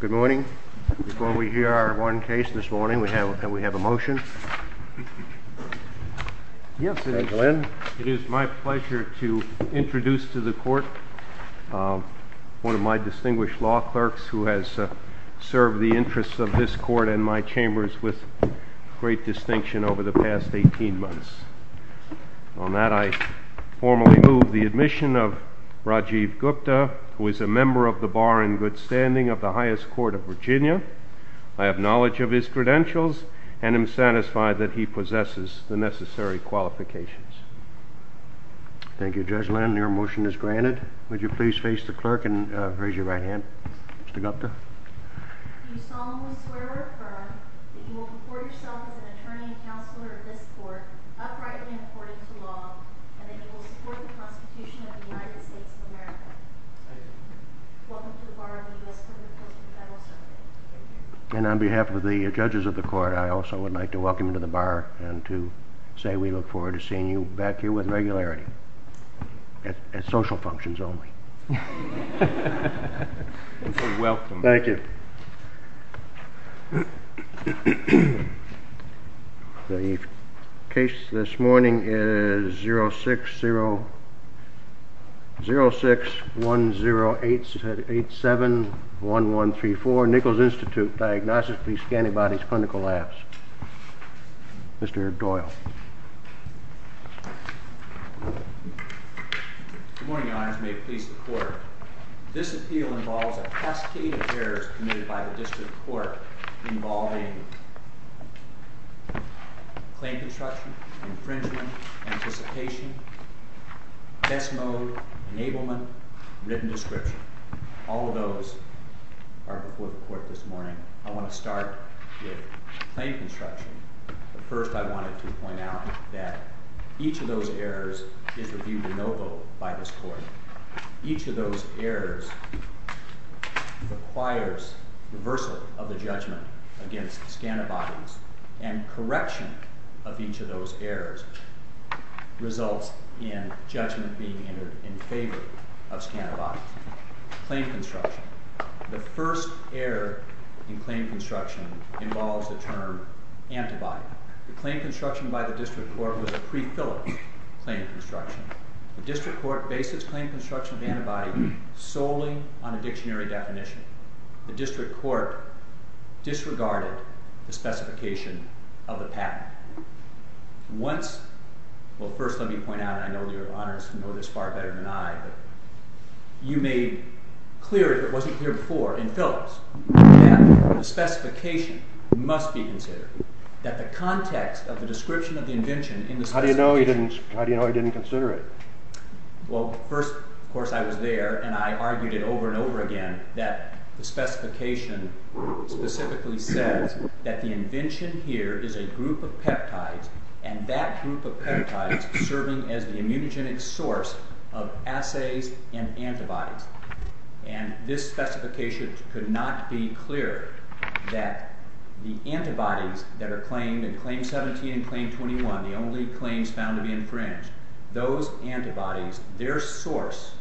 Good morning. Before we hear our one case this morning, we have a motion. Yes, Mr. Glenn. It is my pleasure to introduce to the court one of my distinguished law clerks who has served the interests of this court and my chambers with great distinction over the past 18 months. On that, I formally move the admission of Rajiv Gupta, who is a member of the Bar and Good Standing of the highest court of Virginia. I have knowledge of his credentials and am satisfied that he possesses the necessary qualifications. Thank you, Judge Lynn. Your motion is granted. Would you please face the clerk and raise your right hand. Mr. Gupta. You solemnly swear or affirm that you will comport yourself as an attorney and counselor of this court, uprightly and according to law, and that you will support the Constitution of the United States of America. Welcome to the Bar of the U.S. Supreme Court of the Federal Circuit. Thank you. And on behalf of the judges of the court, I also would like to welcome you to the Bar and to say we look forward to seeing you back here with regularity. At social functions only. You're welcome. Thank you. The case this morning is 0610871134, Nichols Institute, Diagnostics Police Antibodies Clinical Labs. Mr. Doyle. Good morning, Your Honors. May it please the court. This appeal involves a cascade of errors committed by the district court involving claim construction, infringement, anticipation, test mode, enablement, written description. All of those are before the court this morning. I want to start with claim construction. First, I wanted to point out that each of those errors is reviewed de novo by this court. Each of those errors requires reversal of the judgment against scantibodies, and correction of each of those errors results in judgment being entered in favor of scantibodies. Claim construction. The first error in claim construction involves the term antibody. The claim construction by the district court was a prefilled claim construction. The district court bases claim construction of antibody solely on a dictionary definition. The district court disregarded the specification of the patent. Well, first let me point out, and I know Your Honors know this far better than I, but you made clear, if it wasn't clear before, in Phillips, that the specification must be considered. That the context of the description of the invention in the specification... How do you know he didn't consider it? Well, first, of course, I was there, and I argued it over and over again, that the specification specifically says that the invention here is a group of peptides, and that group of peptides serving as the immunogenic source of assays and antibodies. And this specification could not be clearer that the antibodies that are claimed in Claim 17 and Claim 21, the only claims found to be infringed, the antibodies, their source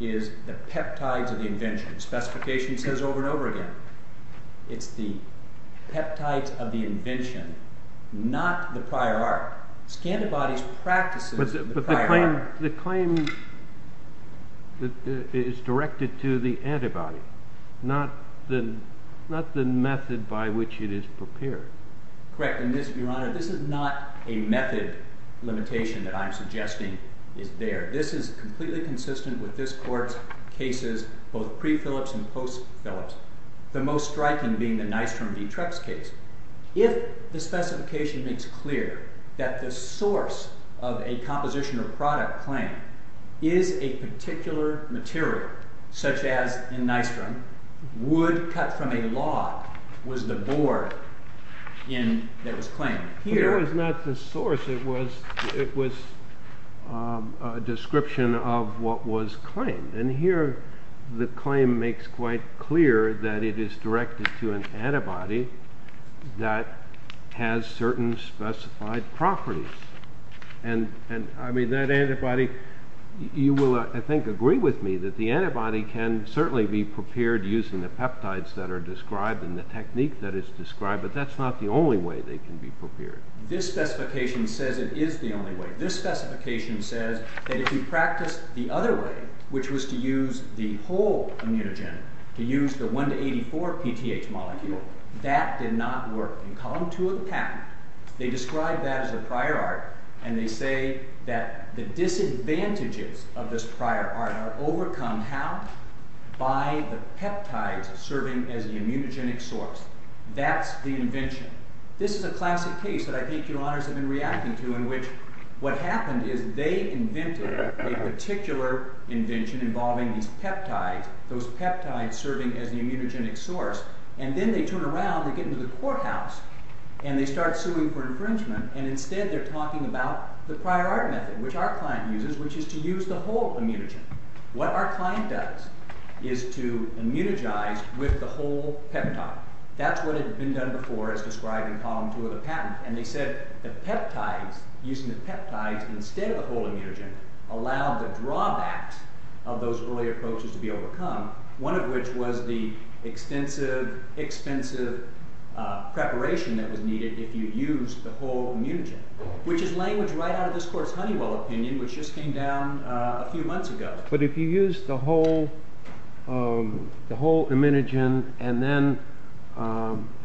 is the peptides of the invention. The specification says over and over again, it's the peptides of the invention, not the prior art. Scantibodies practices the prior art. But the claim is directed to the antibody, not the method by which it is prepared. Correct, and Your Honor, this is not a method limitation that I'm suggesting is there. This is completely consistent with this Court's cases, both pre-Phillips and post-Phillips. The most striking being the Nystrom v. Trex case. If the specification makes clear that the source of a composition or product claim is a particular material, such as, in Nystrom, wood cut from a log, was the board that was claimed. Here, it's not the source. It was a description of what was claimed. And here, the claim makes quite clear that it is directed to an antibody that has certain specified properties. And, I mean, that antibody, you will, I think, agree with me that the antibody can certainly be prepared using the peptides that are described and the technique that is described, but that's not the only way they can be prepared. This specification says it is the only way. This specification says that if you practice the other way, which was to use the whole immunogen, to use the 1 to 84 PTH molecule, that did not work. In column 2 of the patent, they describe that as a prior art, and they say that the disadvantages of this prior art are overcome, how? By the peptides serving as the immunogenic source. That's the invention. This is a classic case that I think your honors have been reacting to, in which what happened is they invented a particular invention involving these peptides, those peptides serving as the immunogenic source. And then they turn around, they get into the courthouse, and they start suing for infringement, and instead they're talking about the prior art method, which our client uses, which is to use the whole immunogen. What our client does is to immunogize with the whole peptide. That's what had been done before, as described in column 2 of the patent, and they said the peptides, using the peptides instead of the whole immunogen, allowed the drawbacks of those earlier approaches to be overcome. One of which was the expensive, expensive preparation that was needed if you used the whole immunogen, which is language right out of this court's Honeywell opinion, which just came down a few months ago. But if you used the whole immunogen and then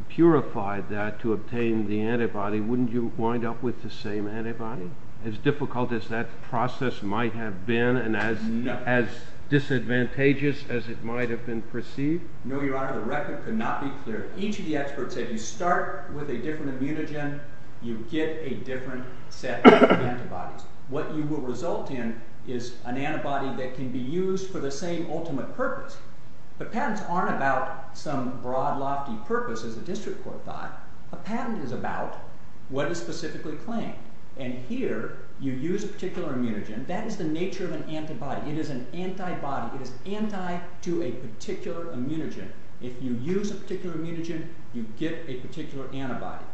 purified that to obtain the antibody, wouldn't you wind up with the same antibody? As difficult as that process might have been, and as disadvantageous as it might have been perceived? No, your honor, the record could not be clearer. Each of the experts said you start with a different immunogen, you get a different set of antibodies. What you will result in is an antibody that can be used for the same ultimate purpose. But patents aren't about some broad, lofty purpose, as the district court thought. A patent is about what is specifically claimed. And here, you use a particular immunogen. That is the nature of an antibody. It is an antibody. It is anti to a particular immunogen. If you use a particular immunogen, you get a particular antibody.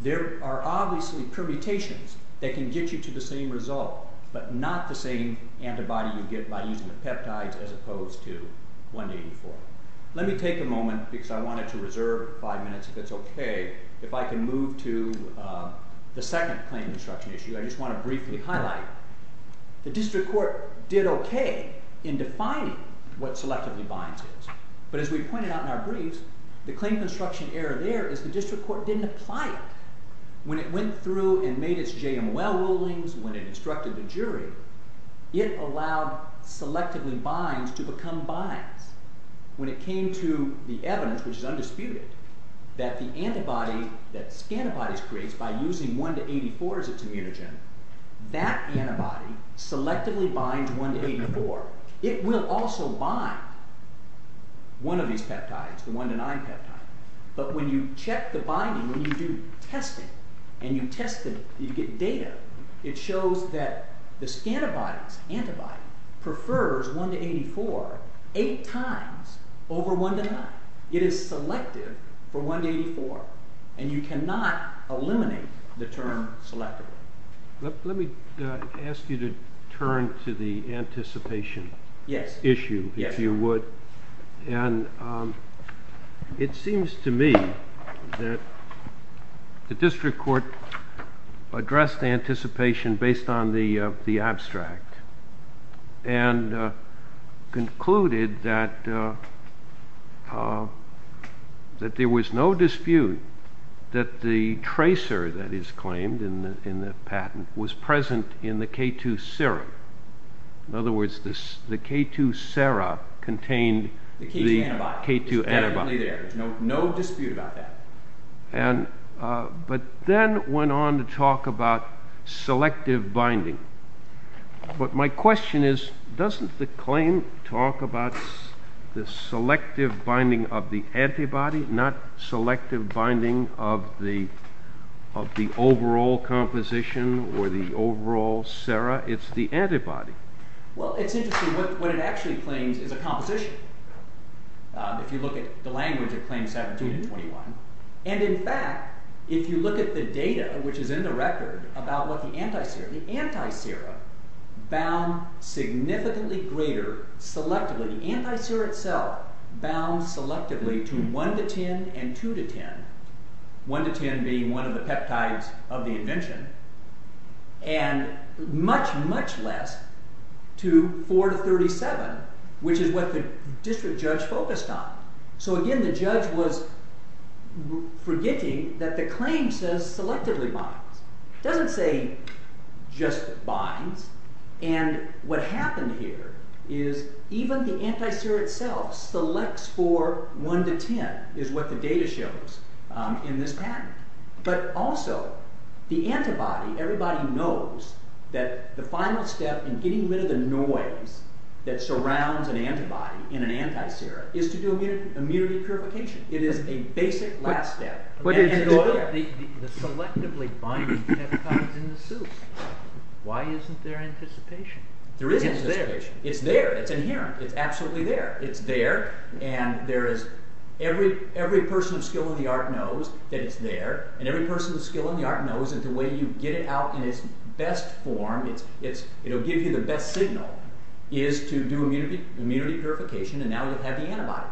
There are obviously permutations that can get you to the same result, but not the same antibody you get by using the peptides as opposed to 184. Let me take a moment, because I wanted to reserve five minutes if it's okay, if I can move to the second claim construction issue. I just want to briefly highlight, the district court did okay in defining what selectively binds is. But as we pointed out in our briefs, the claim construction error there is the district court didn't apply it. When it went through and made its JMOL rulings, when it instructed the jury, it allowed selectively binds to become binds. When it came to the evidence, which is undisputed, that the antibody that scantibodies creates by using 1 to 84 as its immunogen, that antibody selectively binds 1 to 84. It will also bind one of these peptides, the 1 to 9 peptide. But when you check the binding, when you do testing, and you test it, you get data, it shows that the scantibody's antibody prefers 1 to 84 eight times over 1 to 9. It is selective for 1 to 84, and you cannot eliminate the term selectively. Let me ask you to turn to the anticipation issue, if you would. It seems to me that the district court addressed anticipation based on the abstract, and concluded that there was no dispute that the tracer that is claimed in the patent was present in the K2 serum. In other words, the K2 sera contained the K2 antibody. No dispute about that. But then went on to talk about selective binding. But my question is, doesn't the claim talk about the selective binding of the antibody, not selective binding of the overall composition or the overall sera? It's the antibody. Well, it's interesting. What it actually claims is a composition. If you look at the language, it claims 17 and 21. In fact, if you look at the data, which is in the record, about what the anti-sera, the anti-sera bound significantly greater selectively, the anti-sera itself bound selectively to 1 to 10 and 2 to 10, 1 to 10 being one of the peptides of the invention, and much, much less to 4 to 37, which is what the district judge focused on. So again, the judge was forgetting that the claim says selectively binds. It doesn't say just binds. And what happened here is even the anti-sera itself selects for 1 to 10, is what the data shows in this patent. But also, the antibody, everybody knows that the final step in getting rid of the noise that surrounds an antibody in an anti-sera is to do immunity purification. It is a basic last step. But the selectively binding peptide is in the soup. Why isn't there anticipation? There is anticipation. It's there. It's inherent. It's absolutely there. It's there, and every person of skill in the art knows that it's there, and every person of skill in the art knows that the way you get it out in its best form, it will give you the best signal, is to do immunity purification, and now you have the antibody.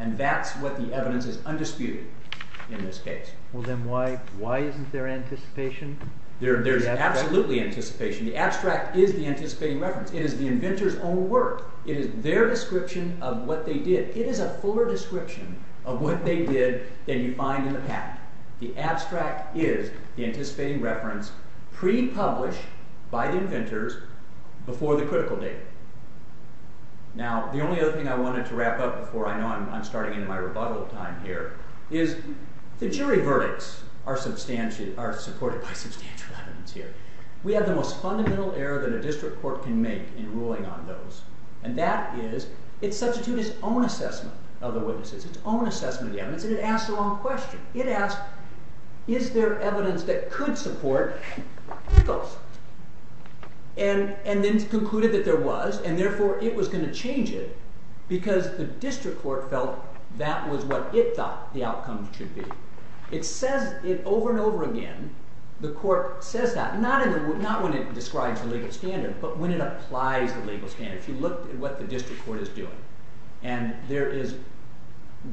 And that's what the evidence is undisputed in this case. Well then why isn't there anticipation? There is absolutely anticipation. The abstract is the anticipating reference. It is the inventor's own work. It is their description of what they did. It is a fuller description of what they did than you find in the patent. The abstract is the anticipating reference pre-published by the inventors before the critical date. Now the only other thing I wanted to wrap up before I know I'm starting into my rebuttal time here is the jury verdicts are supported by substantial evidence here. We have the most fundamental error that a district court can make in ruling on those, and that is it substitutes its own assessment of the witnesses, its own assessment of the evidence, and it asks the wrong question. It asks, is there evidence that could support those? And then it concluded that there was, and therefore it was going to change it because the district court felt that was what it thought the outcome should be. It says it over and over again. The court says that, not when it describes the legal standard, but when it applies the legal standard. If you look at what the district court is doing, and there is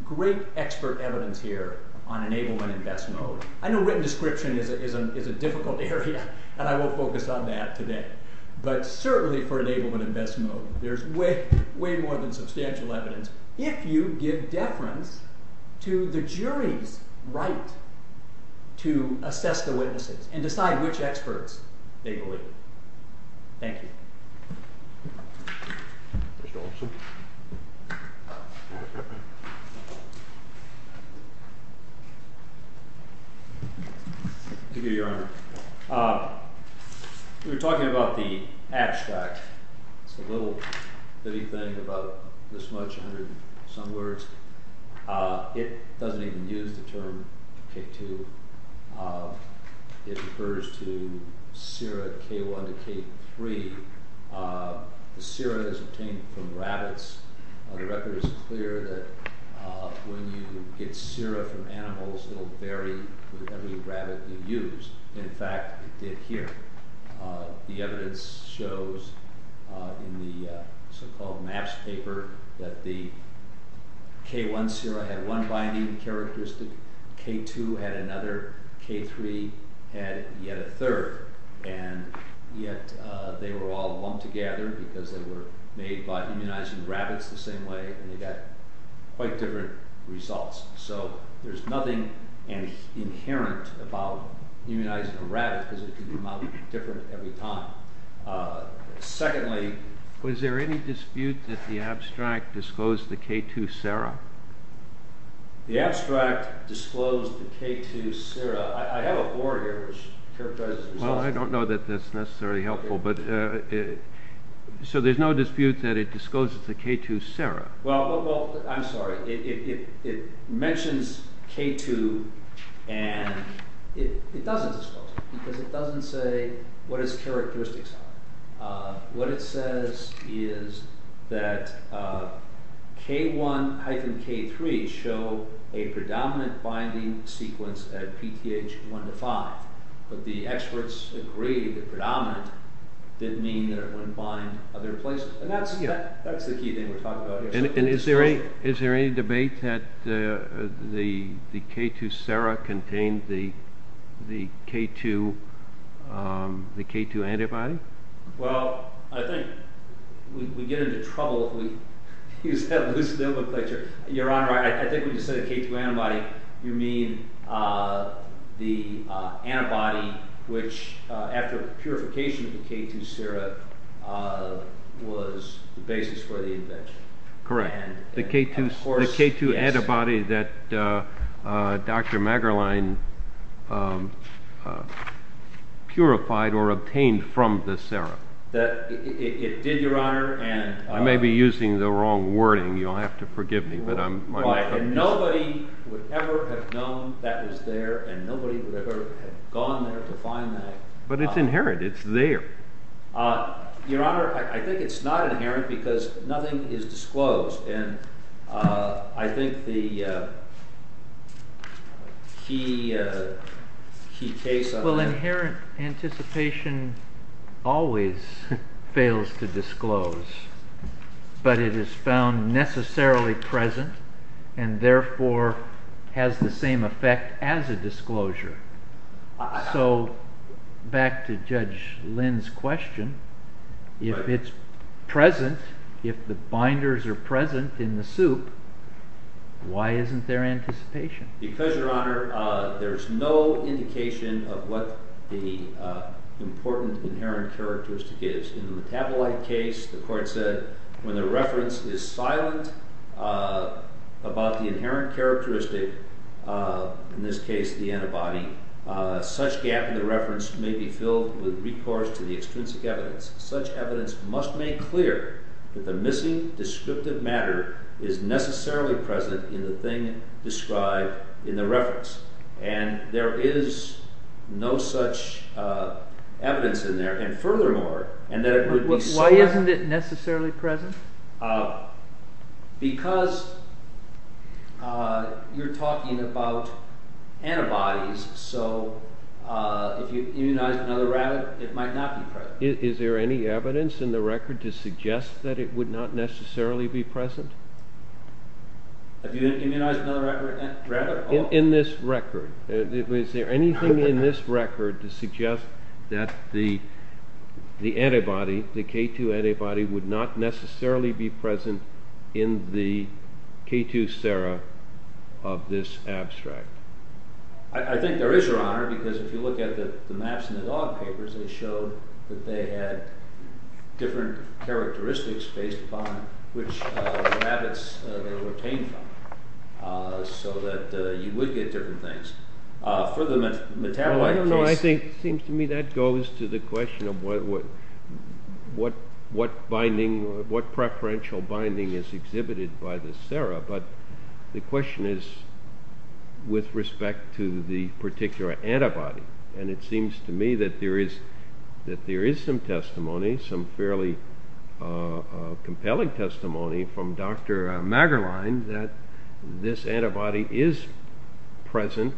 great expert evidence here on enablement in best mode. I know written description is a difficult area, and I won't focus on that today, but certainly for enablement in best mode, there's way more than substantial evidence if you give deference to the jury's right to assess the witnesses and decide which experts they believe. Thank you. Thank you, Your Honor. We were talking about the abstract. It's a little bitty thing about this much, a hundred and some words. It doesn't even use the term K2. It refers to sera K1 to K3. The sera is obtained from rabbits. The record is clear that when you get sera from animals, it will vary with every rabbit you use. In fact, it did here. The evidence shows in the so-called MAPS paper that the K1 sera had one binding characteristic. K2 had another. K3 had yet a third. And yet they were all lumped together because they were made by immunizing rabbits the same way, and they got quite different results. So there's nothing inherent about immunizing a rabbit because it can come out different every time. Secondly, was there any dispute that the abstract disclosed the K2 sera? The abstract disclosed the K2 sera. I have a board here. I don't know that that's necessarily helpful. So there's no dispute that it discloses the K2 sera. I'm sorry. It mentions K2, and it doesn't disclose it because it doesn't say what its characteristics are. What it says is that K1-K3 show a predominant binding sequence at PTH 1-5. But the experts agree that predominant didn't mean that it wouldn't bind other places. And that's the key thing we're talking about here. And is there any debate that the K2 sera contained the K2 antibody? Well, I think we'd get into trouble if we used that loose nomenclature. Your Honor, I think when you say the K2 antibody, you mean the antibody which, after purification of the K2 sera, was the basis for the invention. Correct. The K2 antibody that Dr. Magerlein purified or obtained from the sera. It did, Your Honor. I may be using the wrong wording. You'll have to forgive me. And nobody would ever have known that was there, and nobody would ever have gone there to find that. But it's inherent. It's there. Your Honor, I think it's not inherent because nothing is disclosed. And I think the key case on that— Well, inherent anticipation always fails to disclose. But it is found necessarily present and therefore has the same effect as a disclosure. So, back to Judge Lynn's question, if it's present, if the binders are present in the soup, why isn't there anticipation? Because, Your Honor, there's no indication of what the important inherent characteristic is. In the metabolite case, the court said, when the reference is silent about the inherent characteristic, in this case, the antibody, such gap in the reference may be filled with recourse to the extrinsic evidence. Such evidence must make clear that the missing descriptive matter is necessarily present in the thing described in the reference. And there is no such evidence in there. And furthermore— Why isn't it necessarily present? Because you're talking about antibodies, so if you immunize another rabbit, it might not be present. Is there any evidence in the record to suggest that it would not necessarily be present? Have you immunized another rabbit? In this record. Is there anything in this record to suggest that the antibody, the K2 antibody, would not necessarily be present in the K2 sera of this abstract? I think there is, Your Honor, because if you look at the maps in the dog papers, they showed that they had different characteristics based upon which rabbits they were obtained from, so that you would get different things. For the metabolite case— Well, I don't know. It seems to me that goes to the question of what preferential binding is exhibited by the sera, but the question is with respect to the particular antibody. And it seems to me that there is some testimony, some fairly compelling testimony from Dr. Magerlein that this antibody is present,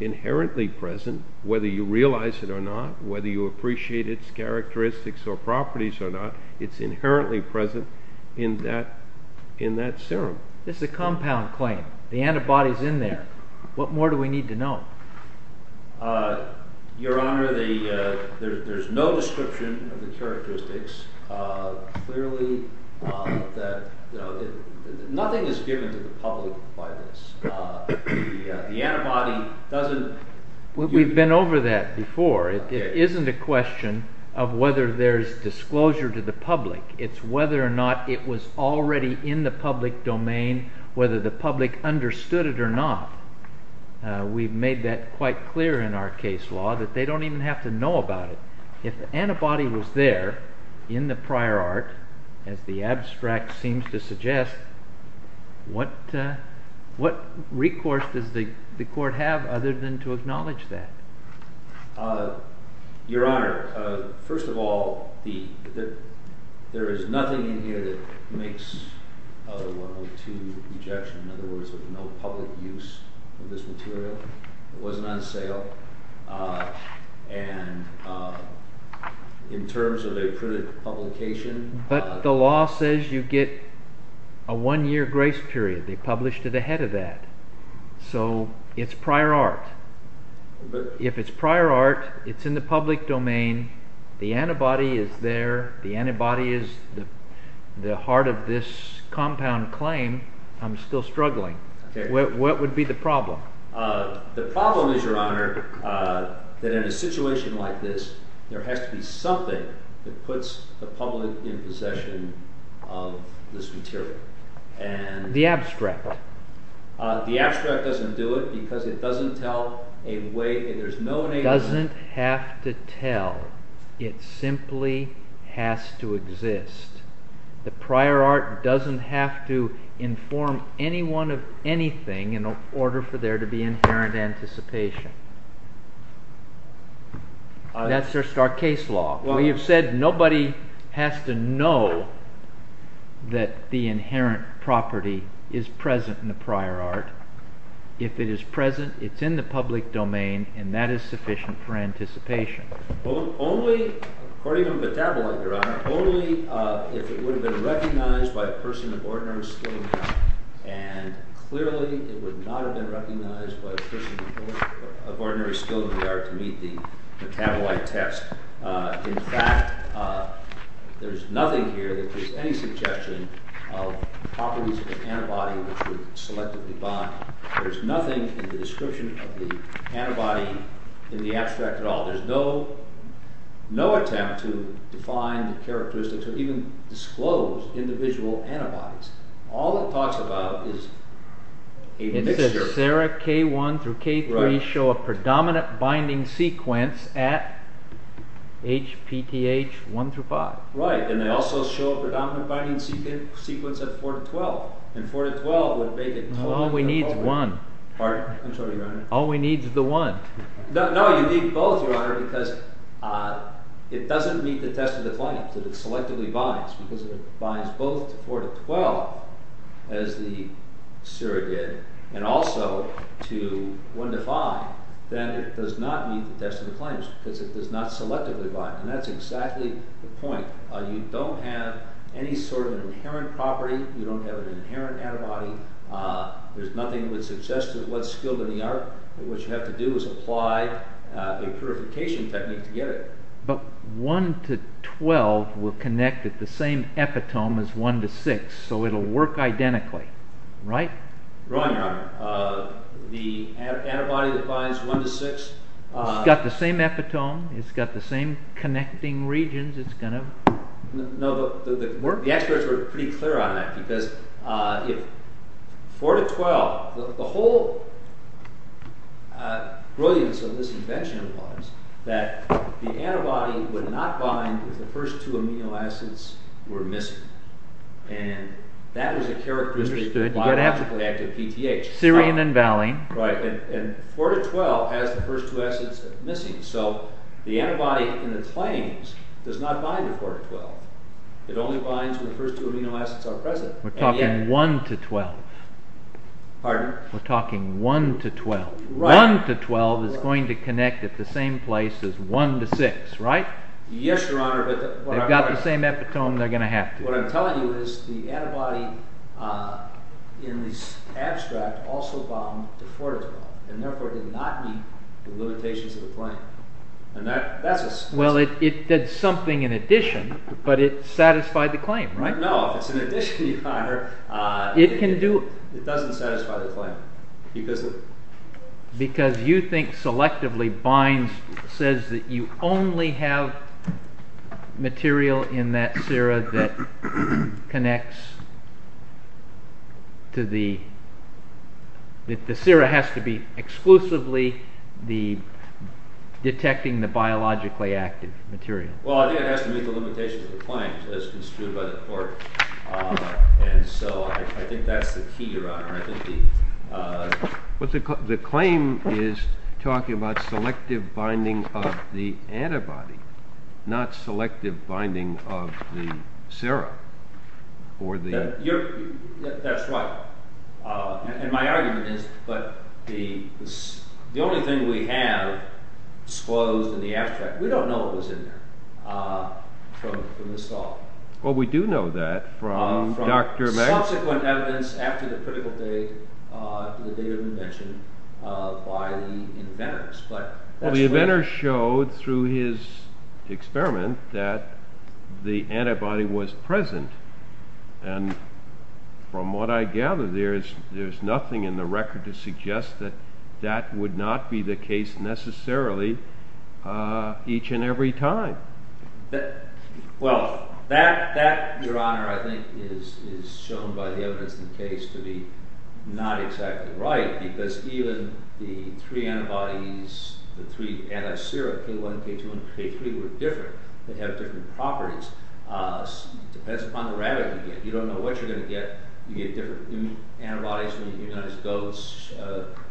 inherently present, whether you realize it or not, whether you appreciate its characteristics or properties or not, it's inherently present in that serum. This is a compound claim. The antibody is in there. What more do we need to know? Your Honor, there is no description of the characteristics. Clearly, nothing is given to the public by this. The antibody doesn't— We've been over that before. It isn't a question of whether there is disclosure to the public. It's whether or not it was already in the public domain, whether the public understood it or not. We've made that quite clear in our case law that they don't even have to know about it. If the antibody was there in the prior art, as the abstract seems to suggest, what recourse does the court have other than to acknowledge that? Your Honor, first of all, there is nothing in here that makes a 102 rejection, in other words, of no public use of this material. It wasn't on sale. And in terms of a printed publication— But the law says you get a one-year grace period. They published it ahead of that. So, it's prior art. If it's prior art, it's in the public domain, the antibody is there, the antibody is the heart of this compound claim, I'm still struggling. What would be the problem? The problem is, Your Honor, that in a situation like this, there has to be something that puts the public in possession of this material. The abstract. The abstract doesn't do it because it doesn't tell a way— It doesn't have to tell. It simply has to exist. The prior art doesn't have to inform anyone of anything in order for there to be inherent anticipation. That's our case law. You've said nobody has to know that the inherent property is present in the prior art. If it is present, it's in the public domain, and that is sufficient for anticipation. Only, according to metabolite, Your Honor, only if it would have been recognized by a person of ordinary skill in the art. And clearly, it would not have been recognized by a person of ordinary skill in the art to meet the metabolite test. In fact, there's nothing here that makes any suggestion of properties of an antibody which would selectively bind. There's nothing in the description of the antibody in the abstract at all. There's no attempt to define the characteristics or even disclose individual antibodies. All it talks about is a mixture— It says, Sarah, K1 through K3 show a predominant binding sequence at HPTH 1 through 5. Right, and they also show a predominant binding sequence at 4 to 12. All we need is one. Pardon? I'm sorry, Your Honor. All we need is the one. No, you need both, Your Honor, because it doesn't meet the test of the claims that it selectively binds because it binds both to 4 to 12 and also to 1 to 5, then it does not meet the test of the claims because it does not selectively bind. And that's exactly the point. You don't have any sort of an inherent property. You don't have an inherent antibody. There's nothing that would suggest what's skilled in the art. What you have to do is apply a purification technique to get it. But 1 to 12 will connect at the same epitome as 1 to 6, so it'll work identically, right? Wrong, Your Honor. The antibody that binds 1 to 6 It's got the same epitome. It's got the same connecting regions. No, but the experts were pretty clear on that because if 4 to 12, the whole brilliance of this invention was that the antibody would not bind if the first two amino acids And that was a characteristic of biologically active PTH. Serine and valine. Right, and 4 to 12 has the first two acids missing, so the antibody in its claims does not bind with 4 to 12. It only binds when the first two amino acids are present. We're talking 1 to 12. Pardon? We're talking 1 to 12. 1 to 12 is going to connect at the same place as 1 to 6, right? Yes, Your Honor, but They've got the same epitome. They're going to have to. What I'm telling you is it did not bind with 4 to 12 and therefore did not meet the limitations of the claim. Well, it did something in addition, but it satisfied the claim, right? No, it's an addition, Your Honor. It can do it. It doesn't satisfy the claim. Because you think selectively binds says that you only have material in that sera that connects to the that the sera has to be exclusively the detecting the biologically active material. Well, I think it has to meet the limitations of the claim as construed by the court, and so I think that's the key, Your Honor. The claim is talking about selective binding of the antibody, not selective binding of the sera or the bacteria. That's right. And my argument is the only thing we have disclosed in the abstract, we don't know what was in there from this thought. Well, we do know that from subsequent evidence after the critical date of the invention by the inventors. The inventors showed through his experiment that the antibody was present from what I gather there is nothing in the record to suggest that that would not be the case necessarily each and every time. Well, that, Your Honor, I think is shown by the evidence in the case to be not exactly right because even the three antibodies, the three anti-sera K1, K2, and K3 you don't know what you're going to get. You get different antibodies when you immunize goats,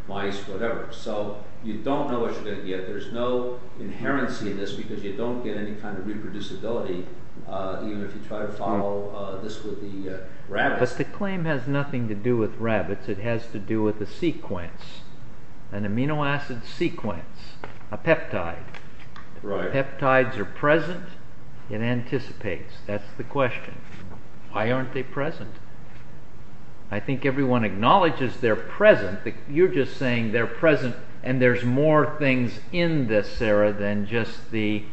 mice, whatever. So you don't know what you're going to get. There's no inherency in this because you don't get any kind of reproducibility even if you try to follow this with the rabbits. But the claim has nothing to do with rabbits. It has to do with a sequence, an amino acid sequence, a peptide. They're present. I think everyone acknowledges they're present. You're just saying they're present and there's more things in this, Sarah, than just the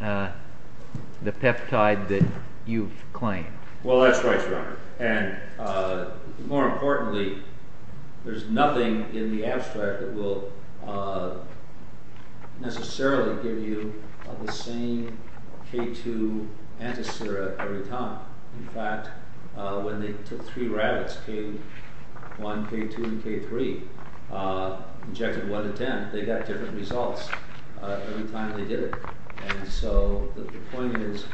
peptide that you've claimed. Well, that's right, Your Honor. And more importantly there's nothing in the abstract that will necessarily give you the same K2 anti-sera every time. When they took three rabbits, K1, K2, and K3, injected one to ten, they got different results every time they did it. And so the point is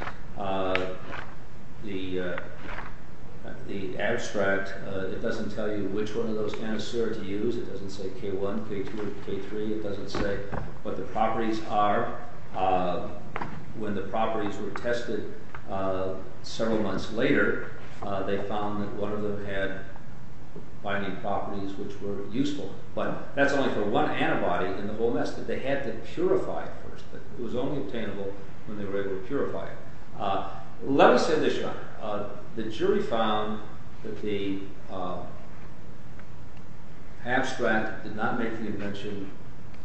the abstract, it doesn't tell you which one of those anti-sera to use. It doesn't say K1, K2, K3. It doesn't say what the properties are. When the properties were tested several months later, they found that one of them had binding properties which were useful. But that's only for one antibody in the whole mess that they had to purify first. It was only obtainable when they were able to purify it. Let me say this, Your Honor. The jury found that the abstract did not make the invention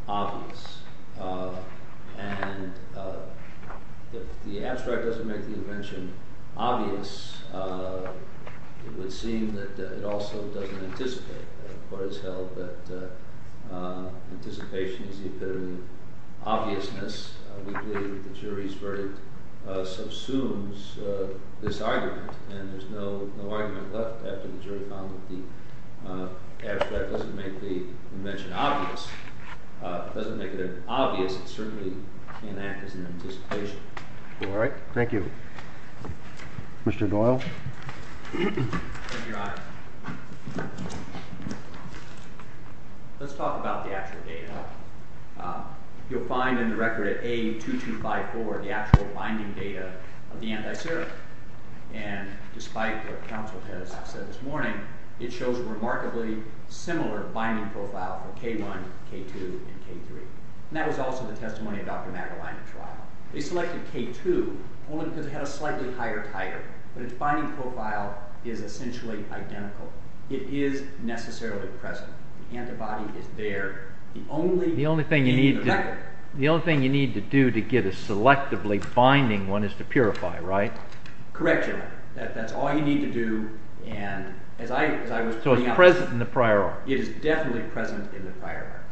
obvious. And if the abstract doesn't make the invention obvious, it would seem that it also doesn't anticipate. The court has held that anticipation is the epitome of obviousness. We believe that the jury's verdict subsumes this argument. And there's no argument left after the jury found that the abstract doesn't make the invention obvious. It doesn't make it obvious. It certainly can't act as an anticipation. Thank you, Your Honor. Let's talk about the actual data. You'll find in the record at A. 2254 the actual binding data of the antiserum. And despite what counsel has said this morning, it shows remarkably similar binding profile for K1, K2, and K3. And that was also the evidence that the binding profile is essentially identical. It is necessarily present. The antibody is there. The only thing you need to do to get a selectively binding one is to purify, right? Correct, Your Honor. That's all you need to do. So it's present in the prior arc? It is definitely present in the prior arc.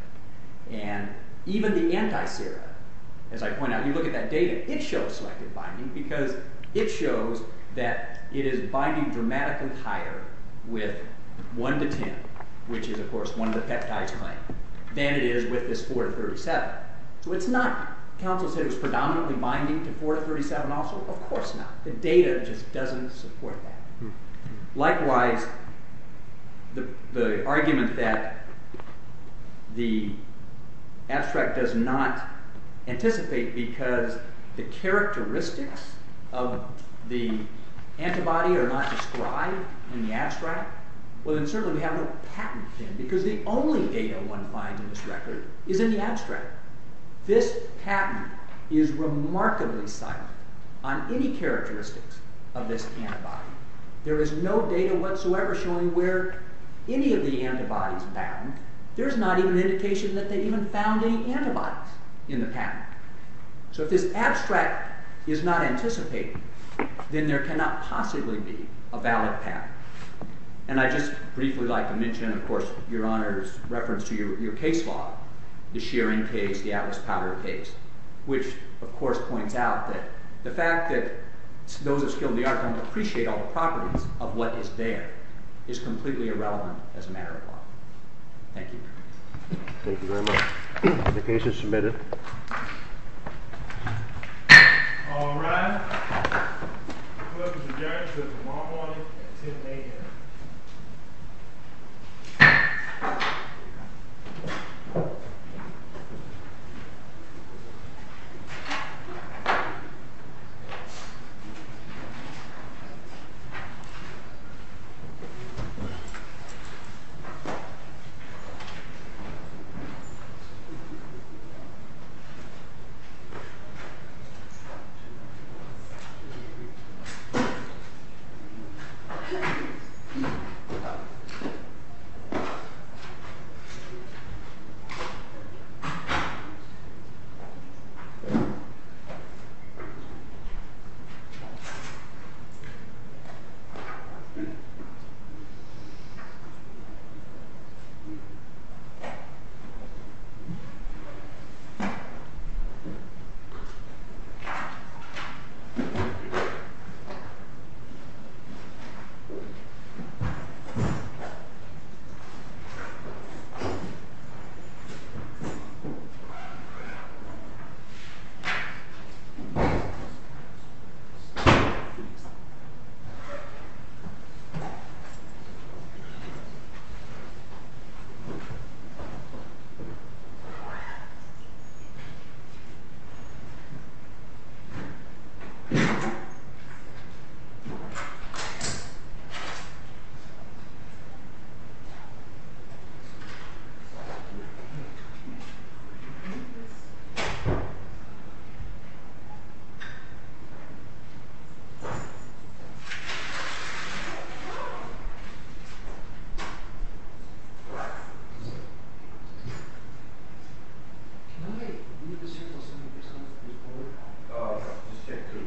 And even the antiserum, as I point out, you look at that data, it shows selective binding because it shows that it is binding dramatically higher with 1 to 10, which is of course one of the peptides claimed, than it is with this 4 to 37. So it's not, counsel said it was predominantly binding to 4 to 37 also? Of course not. The data just doesn't support that. Likewise, the argument that the abstract does not anticipate because the characteristics of the antibody are not described in the abstract, well then certainly we have no patent then because the only data one finds in this record is in the abstract. This patent is remarkably silent on any characteristics of this antibody. There is no data whatsoever showing where any of the characteristics are in the patent. There is not even indication that they even found any antibodies in the patent. So if this abstract is not anticipating, then there cannot possibly be a valid patent. And I just briefly like to mention of course, Your Honor's reference to your case law, the Shearing case, the Atlas Powder case, which of course points out that the fact that those of skill in the art don't appreciate all the properties of what is there is completely irrelevant as a matter of law. Thank you. Thank you very much. The case is submitted. All rise. The court has adjourned until tomorrow morning at 10 a.m. Thank you. Thank you. Thank you. Thank you. 3 3 3 3 3 3 3 3 2